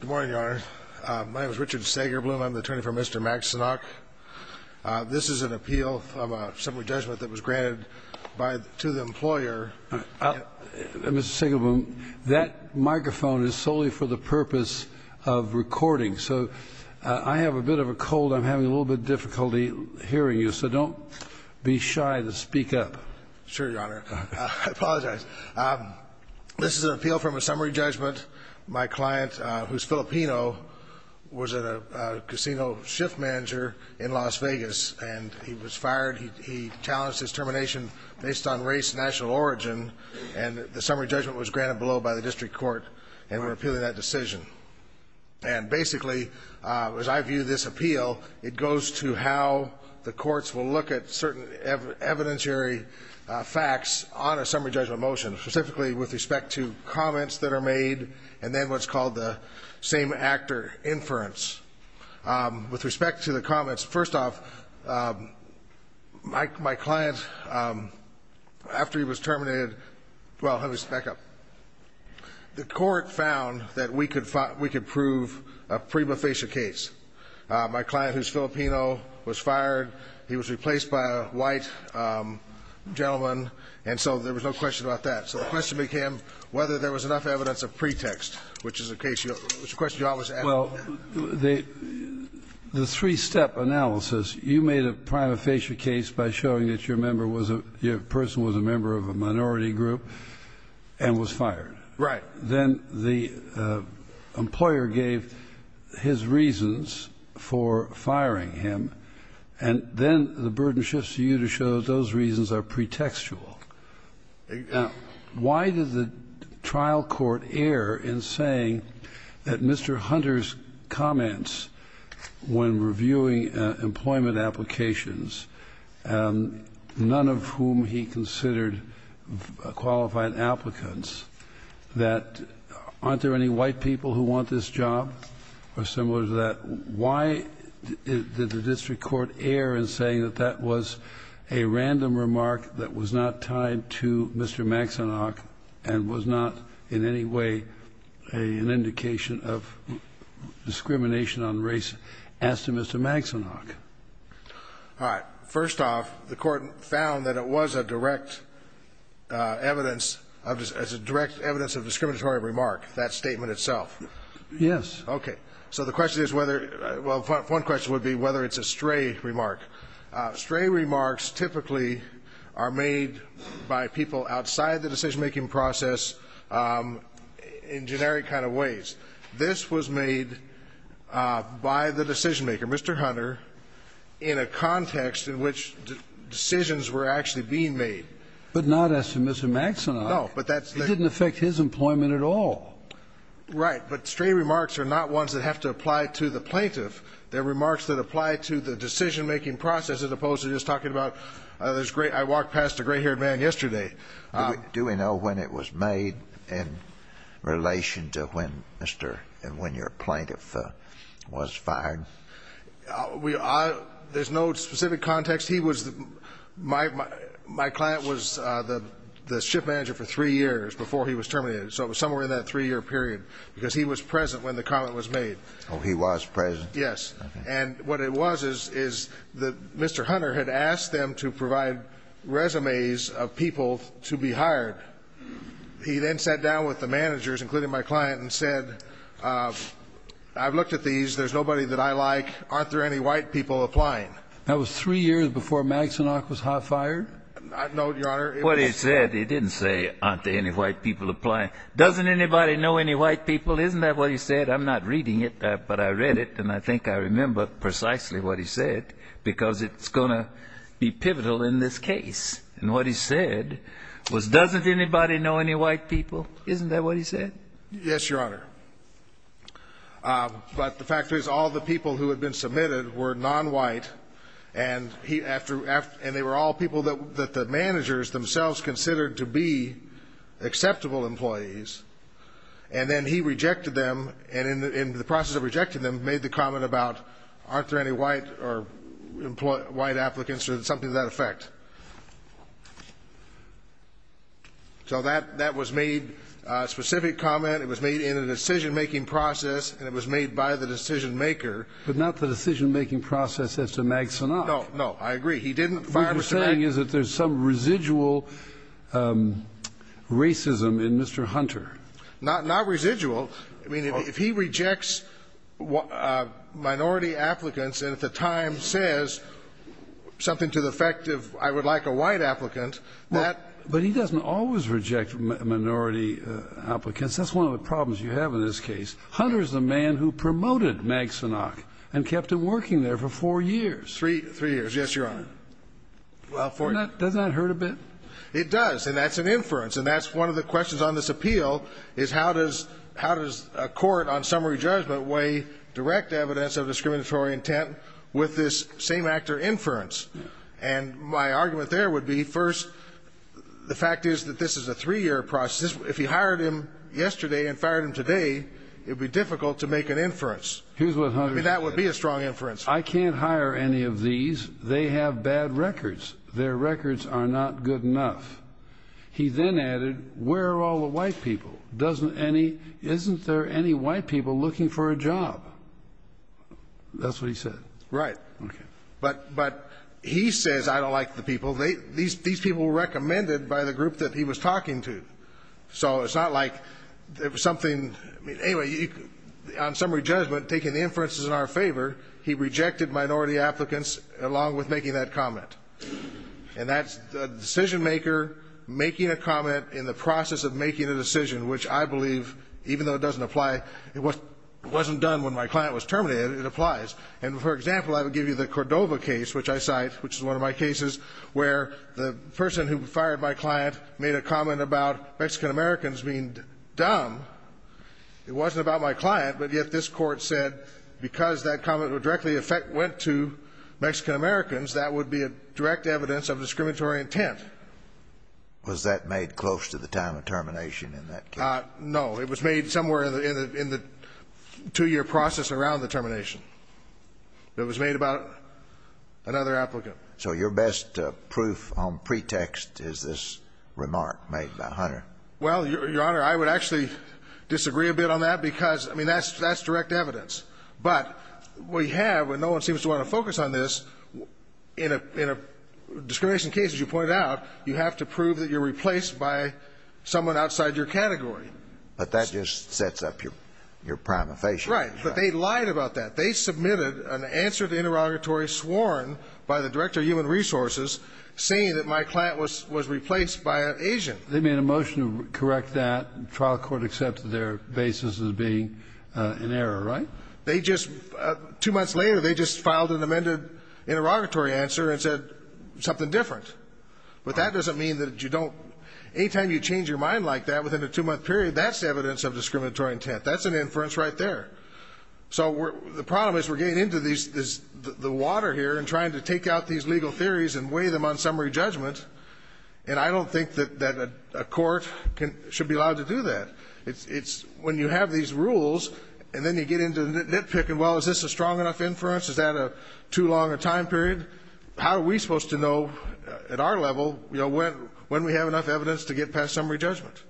Good morning, Your Honor. My name is Richard Sagerblum. I'm the attorney for Mr. Maxanoc. This is an appeal from a summary judgment that was granted to the employer. Mr. Sagerblum, that microphone is solely for the purpose of recording, so I have a bit of a cold. I'm having a little bit of difficulty hearing you, so don't be shy to speak up. Sure, Your Honor. I apologize. This is an appeal from a summary judgment. My client, who's Filipino, was a casino shift manager in Las Vegas, and he was fired. He challenged his termination based on race and national origin, and the summary judgment was granted below by the district court, and we're appealing that decision. And basically, as I view this appeal, it goes to how the courts will look at certain evidentiary facts on a summary judgment motion, specifically with respect to comments that are made and then what's called the same-actor inference. With respect to the comments, first off, my client, after he was terminated, well, let me back up. The court found that we could prove a prima facie case. My client, who's Filipino, was fired. He was replaced by a white gentleman, and so there was no question about that. So the question became whether there was enough evidence of pretext, which is a question you always ask. Well, the three-step analysis, you made a prima facie case by showing that your person was a member of a minority group and was fired. Right. Then the employer gave his reasons for firing him, and then the burden shifts to you to show those reasons are pretextual. Now, why did the trial court err in saying that Mr. Hunter's comments when reviewing employment applications, none of whom he considered qualified applicants, that aren't there any white people who want this job or similar to that? Why did the district court err in saying that that was a random remark that was not tied to Mr. Maxenach and was not in any way an indication of discrimination on race as to Mr. Maxenach? All right. First off, the court found that it was a direct evidence of discriminatory remark, that statement itself. Yes. Okay. So the question is whether one question would be whether it's a stray remark. Stray remarks typically are made by people outside the decision-making process in generic kind of ways. This was made by the decision-maker, Mr. Hunter, in a context in which decisions were actually being made. But not as to Mr. Maxenach. No. But that's the ---- It didn't affect his employment at all. Right. But stray remarks are not ones that have to apply to the plaintiff. They're remarks that apply to the decision-making process as opposed to just talking about this great ---- I walked past a gray-haired man yesterday. Do we know when it was made in relation to when Mr. and when your plaintiff was fired? There's no specific context. He was the ---- my client was the ship manager for three years before he was terminated. So it was somewhere in that three-year period because he was present when the comment was made. Oh, he was present? Yes. Okay. And what it was is that Mr. Hunter had asked them to provide resumes of people to be hired. He then sat down with the managers, including my client, and said, I've looked at these. There's nobody that I like. Aren't there any white people applying? That was three years before Maxenach was hot-fired? No, Your Honor. What he said, he didn't say aren't there any white people applying. Doesn't anybody know any white people? Isn't that what he said? I'm not reading it. But I read it, and I think I remember precisely what he said because it's going to be pivotal in this case. And what he said was doesn't anybody know any white people? Isn't that what he said? Yes, Your Honor. But the fact is all the people who had been submitted were nonwhite, and he ---- and they were all people that the managers themselves considered to be acceptable employees. And then he rejected them, and in the process of rejecting them, made the comment about aren't there any white applicants or something to that effect. So that was made a specific comment. It was made in a decision-making process, and it was made by the decision-maker. But not the decision-making process as to Maxenach. No, I agree. He didn't fire Mr. Maxenach. My understanding is that there's some residual racism in Mr. Hunter. Not residual. I mean, if he rejects minority applicants and at the time says something to the effect of I would like a white applicant, that ---- But he doesn't always reject minority applicants. That's one of the problems you have in this case. Hunter is the man who promoted Maxenach and kept him working there for four years. Three years. Yes, Your Honor. Doesn't that hurt a bit? It does, and that's an inference, and that's one of the questions on this appeal is how does a court on summary judgment weigh direct evidence of discriminatory intent with this same actor inference? And my argument there would be, first, the fact is that this is a three-year process. If he hired him yesterday and fired him today, it would be difficult to make an inference. Here's what Hunter said. I mean, that would be a strong inference. I can't hire any of these. They have bad records. Their records are not good enough. He then added, where are all the white people? Doesn't any ---- Isn't there any white people looking for a job? That's what he said. Right. Okay. But he says I don't like the people. These people were recommended by the group that he was talking to. So it's not like there was something ---- Anyway, on summary judgment, taking the inferences in our favor, he rejected minority applicants along with making that comment. And that's the decision-maker making a comment in the process of making a decision, which I believe, even though it doesn't apply, it wasn't done when my client was terminated. It applies. And, for example, I would give you the Cordova case, which I cite, which is one of my cases where the person who fired my client made a comment about Mexican-Americans being dumb. It wasn't about my client, but yet this Court said because that comment would directly affect ---- went to Mexican-Americans, that would be a direct evidence of discriminatory intent. Was that made close to the time of termination in that case? No. It was made somewhere in the two-year process around the termination. It was made about another applicant. So your best proof on pretext is this remark made by Hunter. Well, Your Honor, I would actually disagree a bit on that because, I mean, that's direct evidence. But we have, and no one seems to want to focus on this, in a discrimination case, as you pointed out, you have to prove that you're replaced by someone outside your category. But that just sets up your prima facie. Right. But they lied about that. They submitted an answer to interrogatory sworn by the Director of Human Resources saying that my client was replaced by an Asian. They made a motion to correct that. The trial court accepted their basis as being in error, right? They just, two months later, they just filed an amended interrogatory answer and said something different. But that doesn't mean that you don't, anytime you change your mind like that within a two-month period, that's evidence of discriminatory intent. That's an inference right there. So the problem is we're getting into the water here and trying to take out these legal theories and weigh them on summary judgment. And I don't think that a court should be allowed to do that. It's when you have these rules and then you get into nitpicking, well, is this a strong enough inference? Is that too long a time period? How are we supposed to know at our level, you know, when we have enough evidence to get past summary judgment?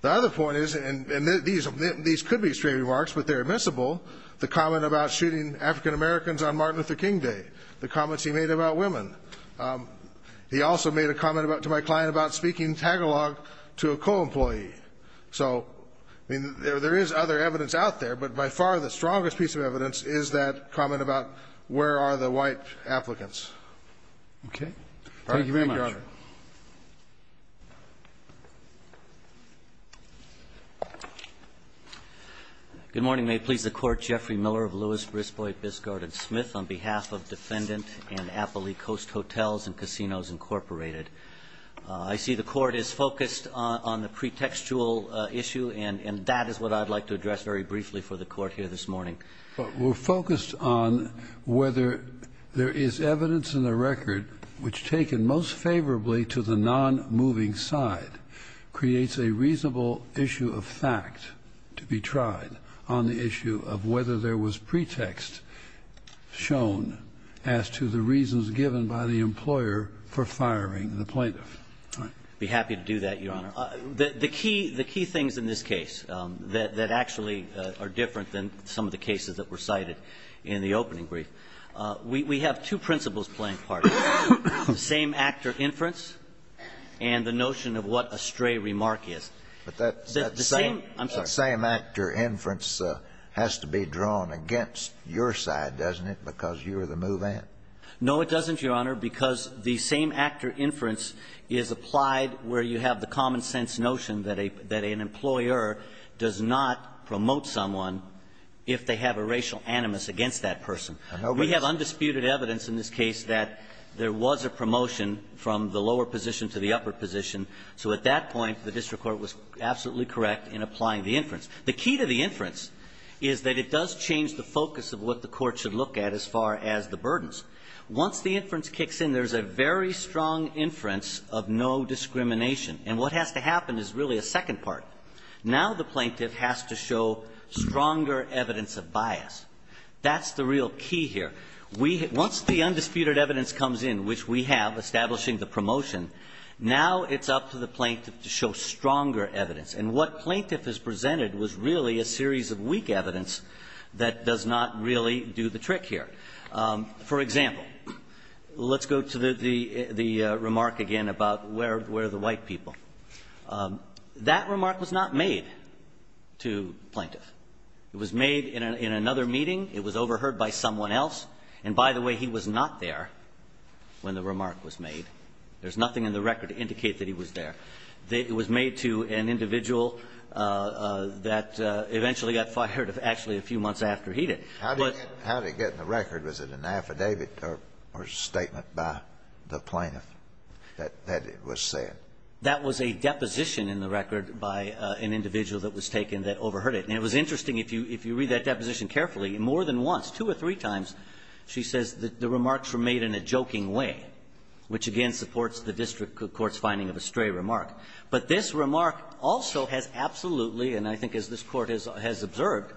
The other point is, and these could be straight remarks, but they're admissible, the comment about shooting African-Americans on Martin Luther King Day, the comments he made about women. He also made a comment to my client about speaking Tagalog to a co-employee. So, I mean, there is other evidence out there, but by far the strongest piece of evidence is that comment about where are the white applicants. Roberts. Thank you very much. Good morning. May it please the Court. I'm Jeffrey Miller of Lewis, Brisbois, Biscard, and Smith on behalf of Defendant and Appalee Coast Hotels and Casinos, Incorporated. I see the Court is focused on the pretextual issue, and that is what I'd like to address very briefly for the Court here this morning. We're focused on whether there is evidence in the record which, taken most favorably to the nonmoving side, creates a reasonable issue of fact to be tried on the issue of whether there was pretext shown as to the reasons given by the employer for firing the plaintiff. I'd be happy to do that, Your Honor. The key things in this case that actually are different than some of the cases that were cited in the opening brief, we have two principles playing part, the same actor inference and the notion of what a stray remark is. The same actor inference has to be drawn against your side, doesn't it, because you're the move-in? No, it doesn't, Your Honor, because the same actor inference is applied where you have the common sense notion that an employer does not promote someone if they have a racial animus against that person. We have undisputed evidence in this case that there was a promotion from the lower position to the upper position. So at that point, the district court was absolutely correct in applying the inference. The key to the inference is that it does change the focus of what the court should look at as far as the burdens. Once the inference kicks in, there's a very strong inference of no discrimination. And what has to happen is really a second part. Now the plaintiff has to show stronger evidence of bias. That's the real key here. Once the undisputed evidence comes in, which we have, establishing the promotion, now it's up to the plaintiff to show stronger evidence. And what plaintiff has presented was really a series of weak evidence that does not really do the trick here. For example, let's go to the remark again about where are the white people. That remark was not made to plaintiff. It was made in another meeting. It was overheard by someone else. And by the way, he was not there when the remark was made. There's nothing in the record to indicate that he was there. It was made to an individual that eventually got fired actually a few months after he did. How did it get in the record? Was it an affidavit or statement by the plaintiff that it was said? That was a deposition in the record by an individual that was taken that overheard it. And it was interesting, if you read that deposition carefully, more than once, two or three times, she says that the remarks were made in a joking way, which again supports the district court's finding of a stray remark. But this remark also has absolutely, and I think as this Court has observed,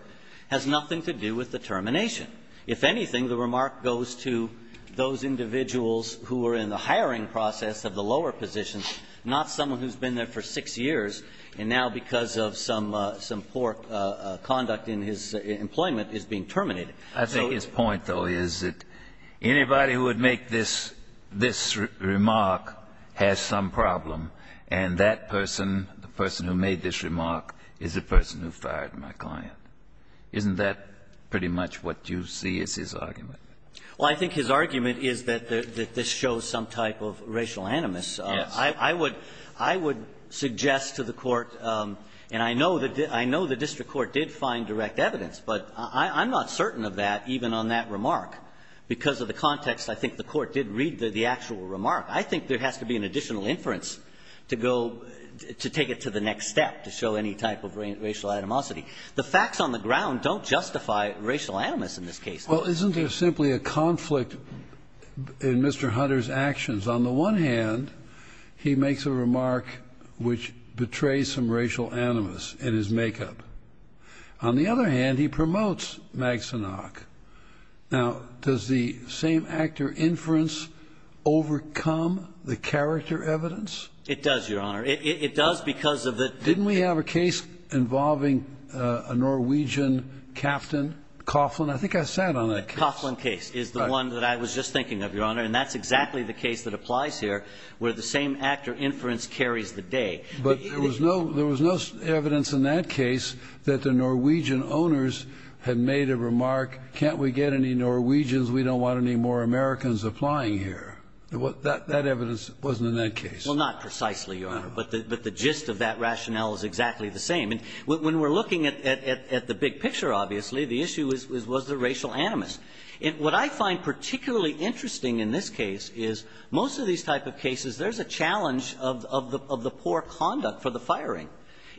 has nothing to do with the termination. If anything, the remark goes to those individuals who were in the hiring process of the lower position, not someone who's been there for six years and now because of some poor conduct in his employment is being terminated. Kennedy, I think his point, though, is that anybody who would make this remark has some problem, and that person, the person who made this remark, is the person who fired my client. Isn't that pretty much what you see as his argument? Well, I think his argument is that this shows some type of racial animus. Yes. I would suggest to the Court, and I know the district court did find direct evidence, but I'm not certain of that, even on that remark. Because of the context, I think the Court did read the actual remark. I think there has to be an additional inference to go, to take it to the next step, to show any type of racial animosity. The facts on the ground don't justify racial animus in this case. Well, isn't there simply a conflict in Mr. Hunter's actions? On the one hand, he makes a remark which betrays some racial animus in his makeup. On the other hand, he promotes Maxenach. Now, does the same-actor inference overcome the character evidence? It does, Your Honor. It does because of the ---- Didn't we have a case involving a Norwegian captain, Coughlin? I think I sat on that case. The Coughlin case is the one that I was just thinking of, Your Honor, and that's exactly the case that applies here, where the same-actor inference carries the day. But there was no evidence in that case that the Norwegian owners had made a remark, can't we get any Norwegians? We don't want any more Americans applying here. That evidence wasn't in that case. Well, not precisely, Your Honor, but the gist of that rationale is exactly the same. And when we're looking at the big picture, obviously, the issue was the racial animus. What I find particularly interesting in this case is most of these type of cases, there's a challenge of the poor conduct for the firing.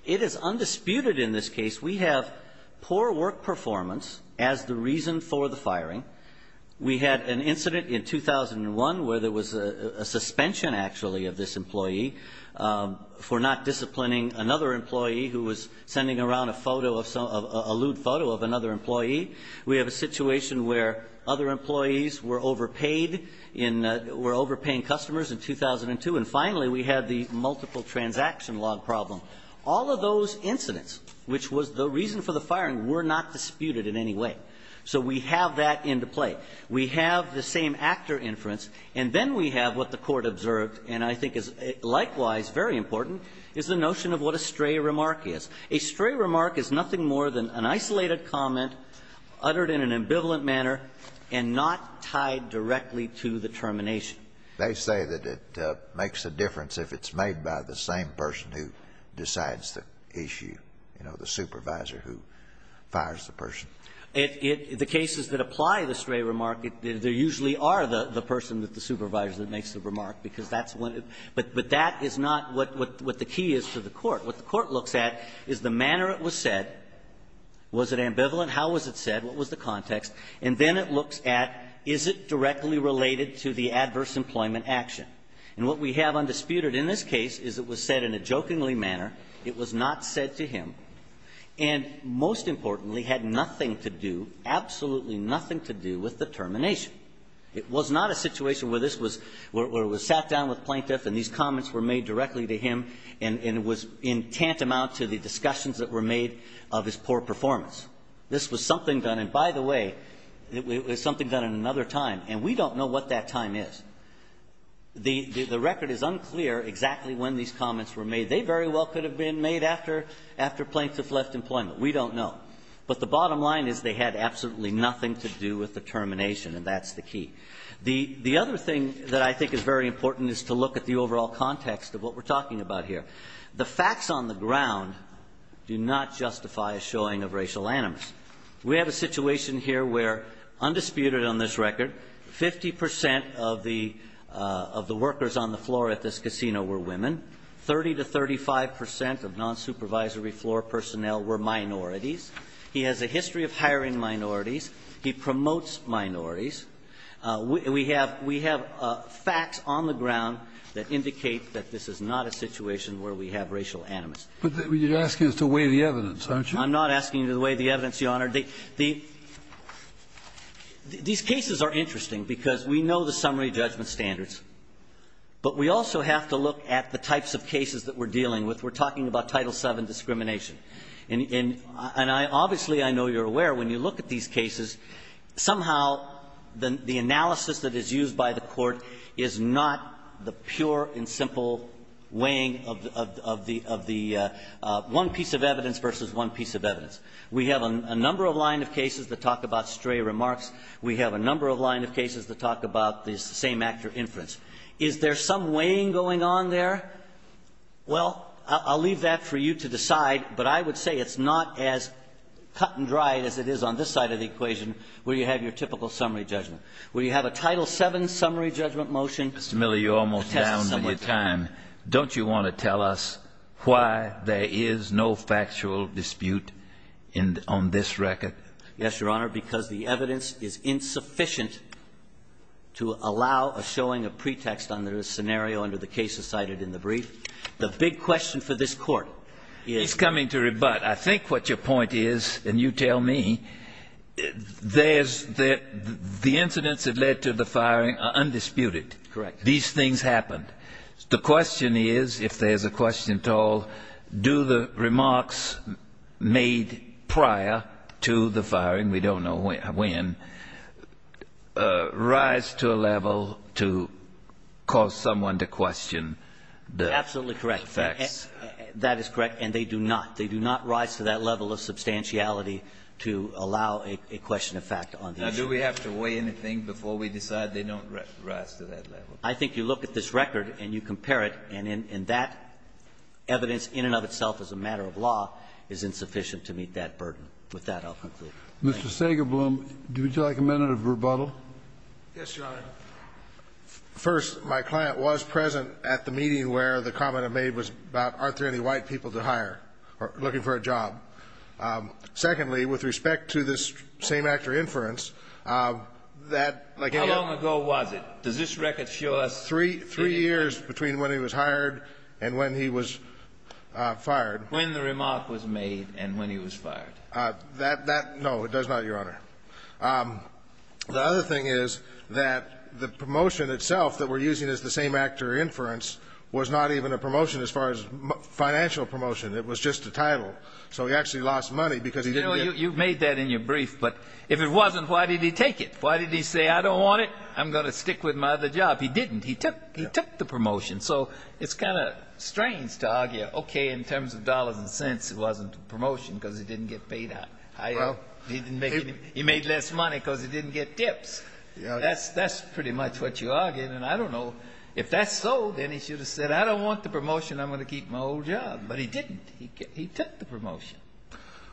It is undisputed in this case we have poor work performance as the reason for the firing. We had an incident in 2001 where there was a suspension, actually, of this employee for not disciplining another employee who was sending around a photo of some ---- a lewd photo of another employee. We have a situation where other employees were overpaid in ---- were overpaying customers in 2002. And finally, we had the multiple transaction log problem. All of those incidents, which was the reason for the firing, were not disputed in any way. So we have that into play. We have the same-actor inference, and then we have what the Court observed, and I think is likewise very important, is the notion of what a stray remark is. A stray remark is nothing more than an isolated comment uttered in an ambivalent manner and not tied directly to the termination. They say that it makes a difference if it's made by the same person who decides the issue, you know, the supervisor who fires the person. The cases that apply the stray remark, there usually are the person, the supervisor that makes the remark, because that's when it ---- but that is not what the key is to the Court. What the Court looks at is the manner it was said. Was it ambivalent? How was it said? What was the context? And then it looks at, is it directly related to the adverse employment action? And what we have undisputed in this case is it was said in a jokingly manner. It was not said to him. And most importantly, had nothing to do, absolutely nothing to do, with the termination. It was not a situation where this was ---- where it was sat down with plaintiff and these comments were made directly to him and it was in tantamount to the discussions that were made of his poor performance. This was something done, and by the way, it was something done at another time, and we don't know what that time is. The record is unclear exactly when these comments were made. They very well could have been made after plaintiff left employment. We don't know. But the bottom line is they had absolutely nothing to do with the termination, and that's the key. The other thing that I think is very important is to look at the overall context of what we're talking about here. The facts on the ground do not justify a showing of racial animus. We have a situation here where, undisputed on this record, 50 percent of the workers on the floor at this casino were women, 30 to 35 percent of non-supervisory floor personnel were minorities. He has a history of hiring minorities. He promotes minorities. We have facts on the ground that indicate that this is not a situation where we have racial animus. But you're asking us to weigh the evidence, aren't you? I'm not asking you to weigh the evidence, Your Honor. These cases are interesting because we know the summary judgment standards, but we also have to look at the types of cases that we're dealing with. We're talking about Title VII discrimination. And obviously I know you're aware when you look at these cases, somehow the analysis that is used by the Court is not the pure and simple weighing of the one piece of evidence versus one piece of evidence. We have a number of line of cases that talk about stray remarks. We have a number of line of cases that talk about the same actor inference. Is there some weighing going on there? Well, I'll leave that for you to decide, but I would say it's not as cut and dried as it is on this side of the equation where you have your typical summary judgment. Where you have a Title VII summary judgment motion. Mr. Miller, you're almost down on your time. Don't you want to tell us why there is no factual dispute on this record? Yes, Your Honor, because the evidence is insufficient to allow a showing of pretext on the scenario under the cases cited in the brief. The big question for this Court is... He's coming to rebut. I think what your point is, and you tell me, the incidents that led to the firing are undisputed. Correct. These things happened. The question is, if there's a question at all, do the remarks made prior to the firing, we don't know when, rise to a level to cause someone to question the facts? Absolutely correct. That is correct. And they do not. They do not rise to that level of substantiality to allow a question of fact on the issue. Now, do we have to weigh anything before we decide they don't rise to that level? I think you look at this record and you compare it, and that evidence in and of itself as a matter of law is insufficient to meet that burden. With that, I'll conclude. Mr. Sagerblum, would you like a minute of rebuttal? Yes, Your Honor. First, my client was present at the meeting where the comment I made was about, aren't there any white people to hire, looking for a job? Secondly, with respect to this same-actor inference, that... How long ago was it? Does this record show us... Three years between when he was hired and when he was fired. When the remark was made and when he was fired. That, no, it does not, Your Honor. The other thing is that the promotion itself that we're using as the same-actor inference was not even a promotion as far as financial promotion. It was just a title. So he actually lost money because he didn't get... You know, you made that in your brief, but if it wasn't, why did he take it? Why did he say, I don't want it, I'm going to stick with my other job? He didn't. He took the promotion. So it's kind of strange to argue, okay, in terms of dollars and cents, it wasn't a promotion because it didn't get paid out. He made less money because he didn't get tips. That's pretty much what you're arguing. And I don't know, if that's so, then he should have said, I don't want the promotion, I'm going to keep my old job. But he didn't. He took the promotion.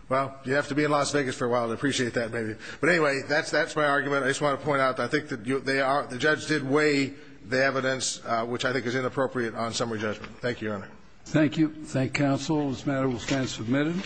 Well, you have to be in Las Vegas for a while to appreciate that, maybe. But, anyway, that's my argument. I just want to point out that I think that the judge did weigh the evidence, which I think is inappropriate, on summary judgment. Thank you, Your Honor. Thank you. Thank counsel. This matter will stand submitted.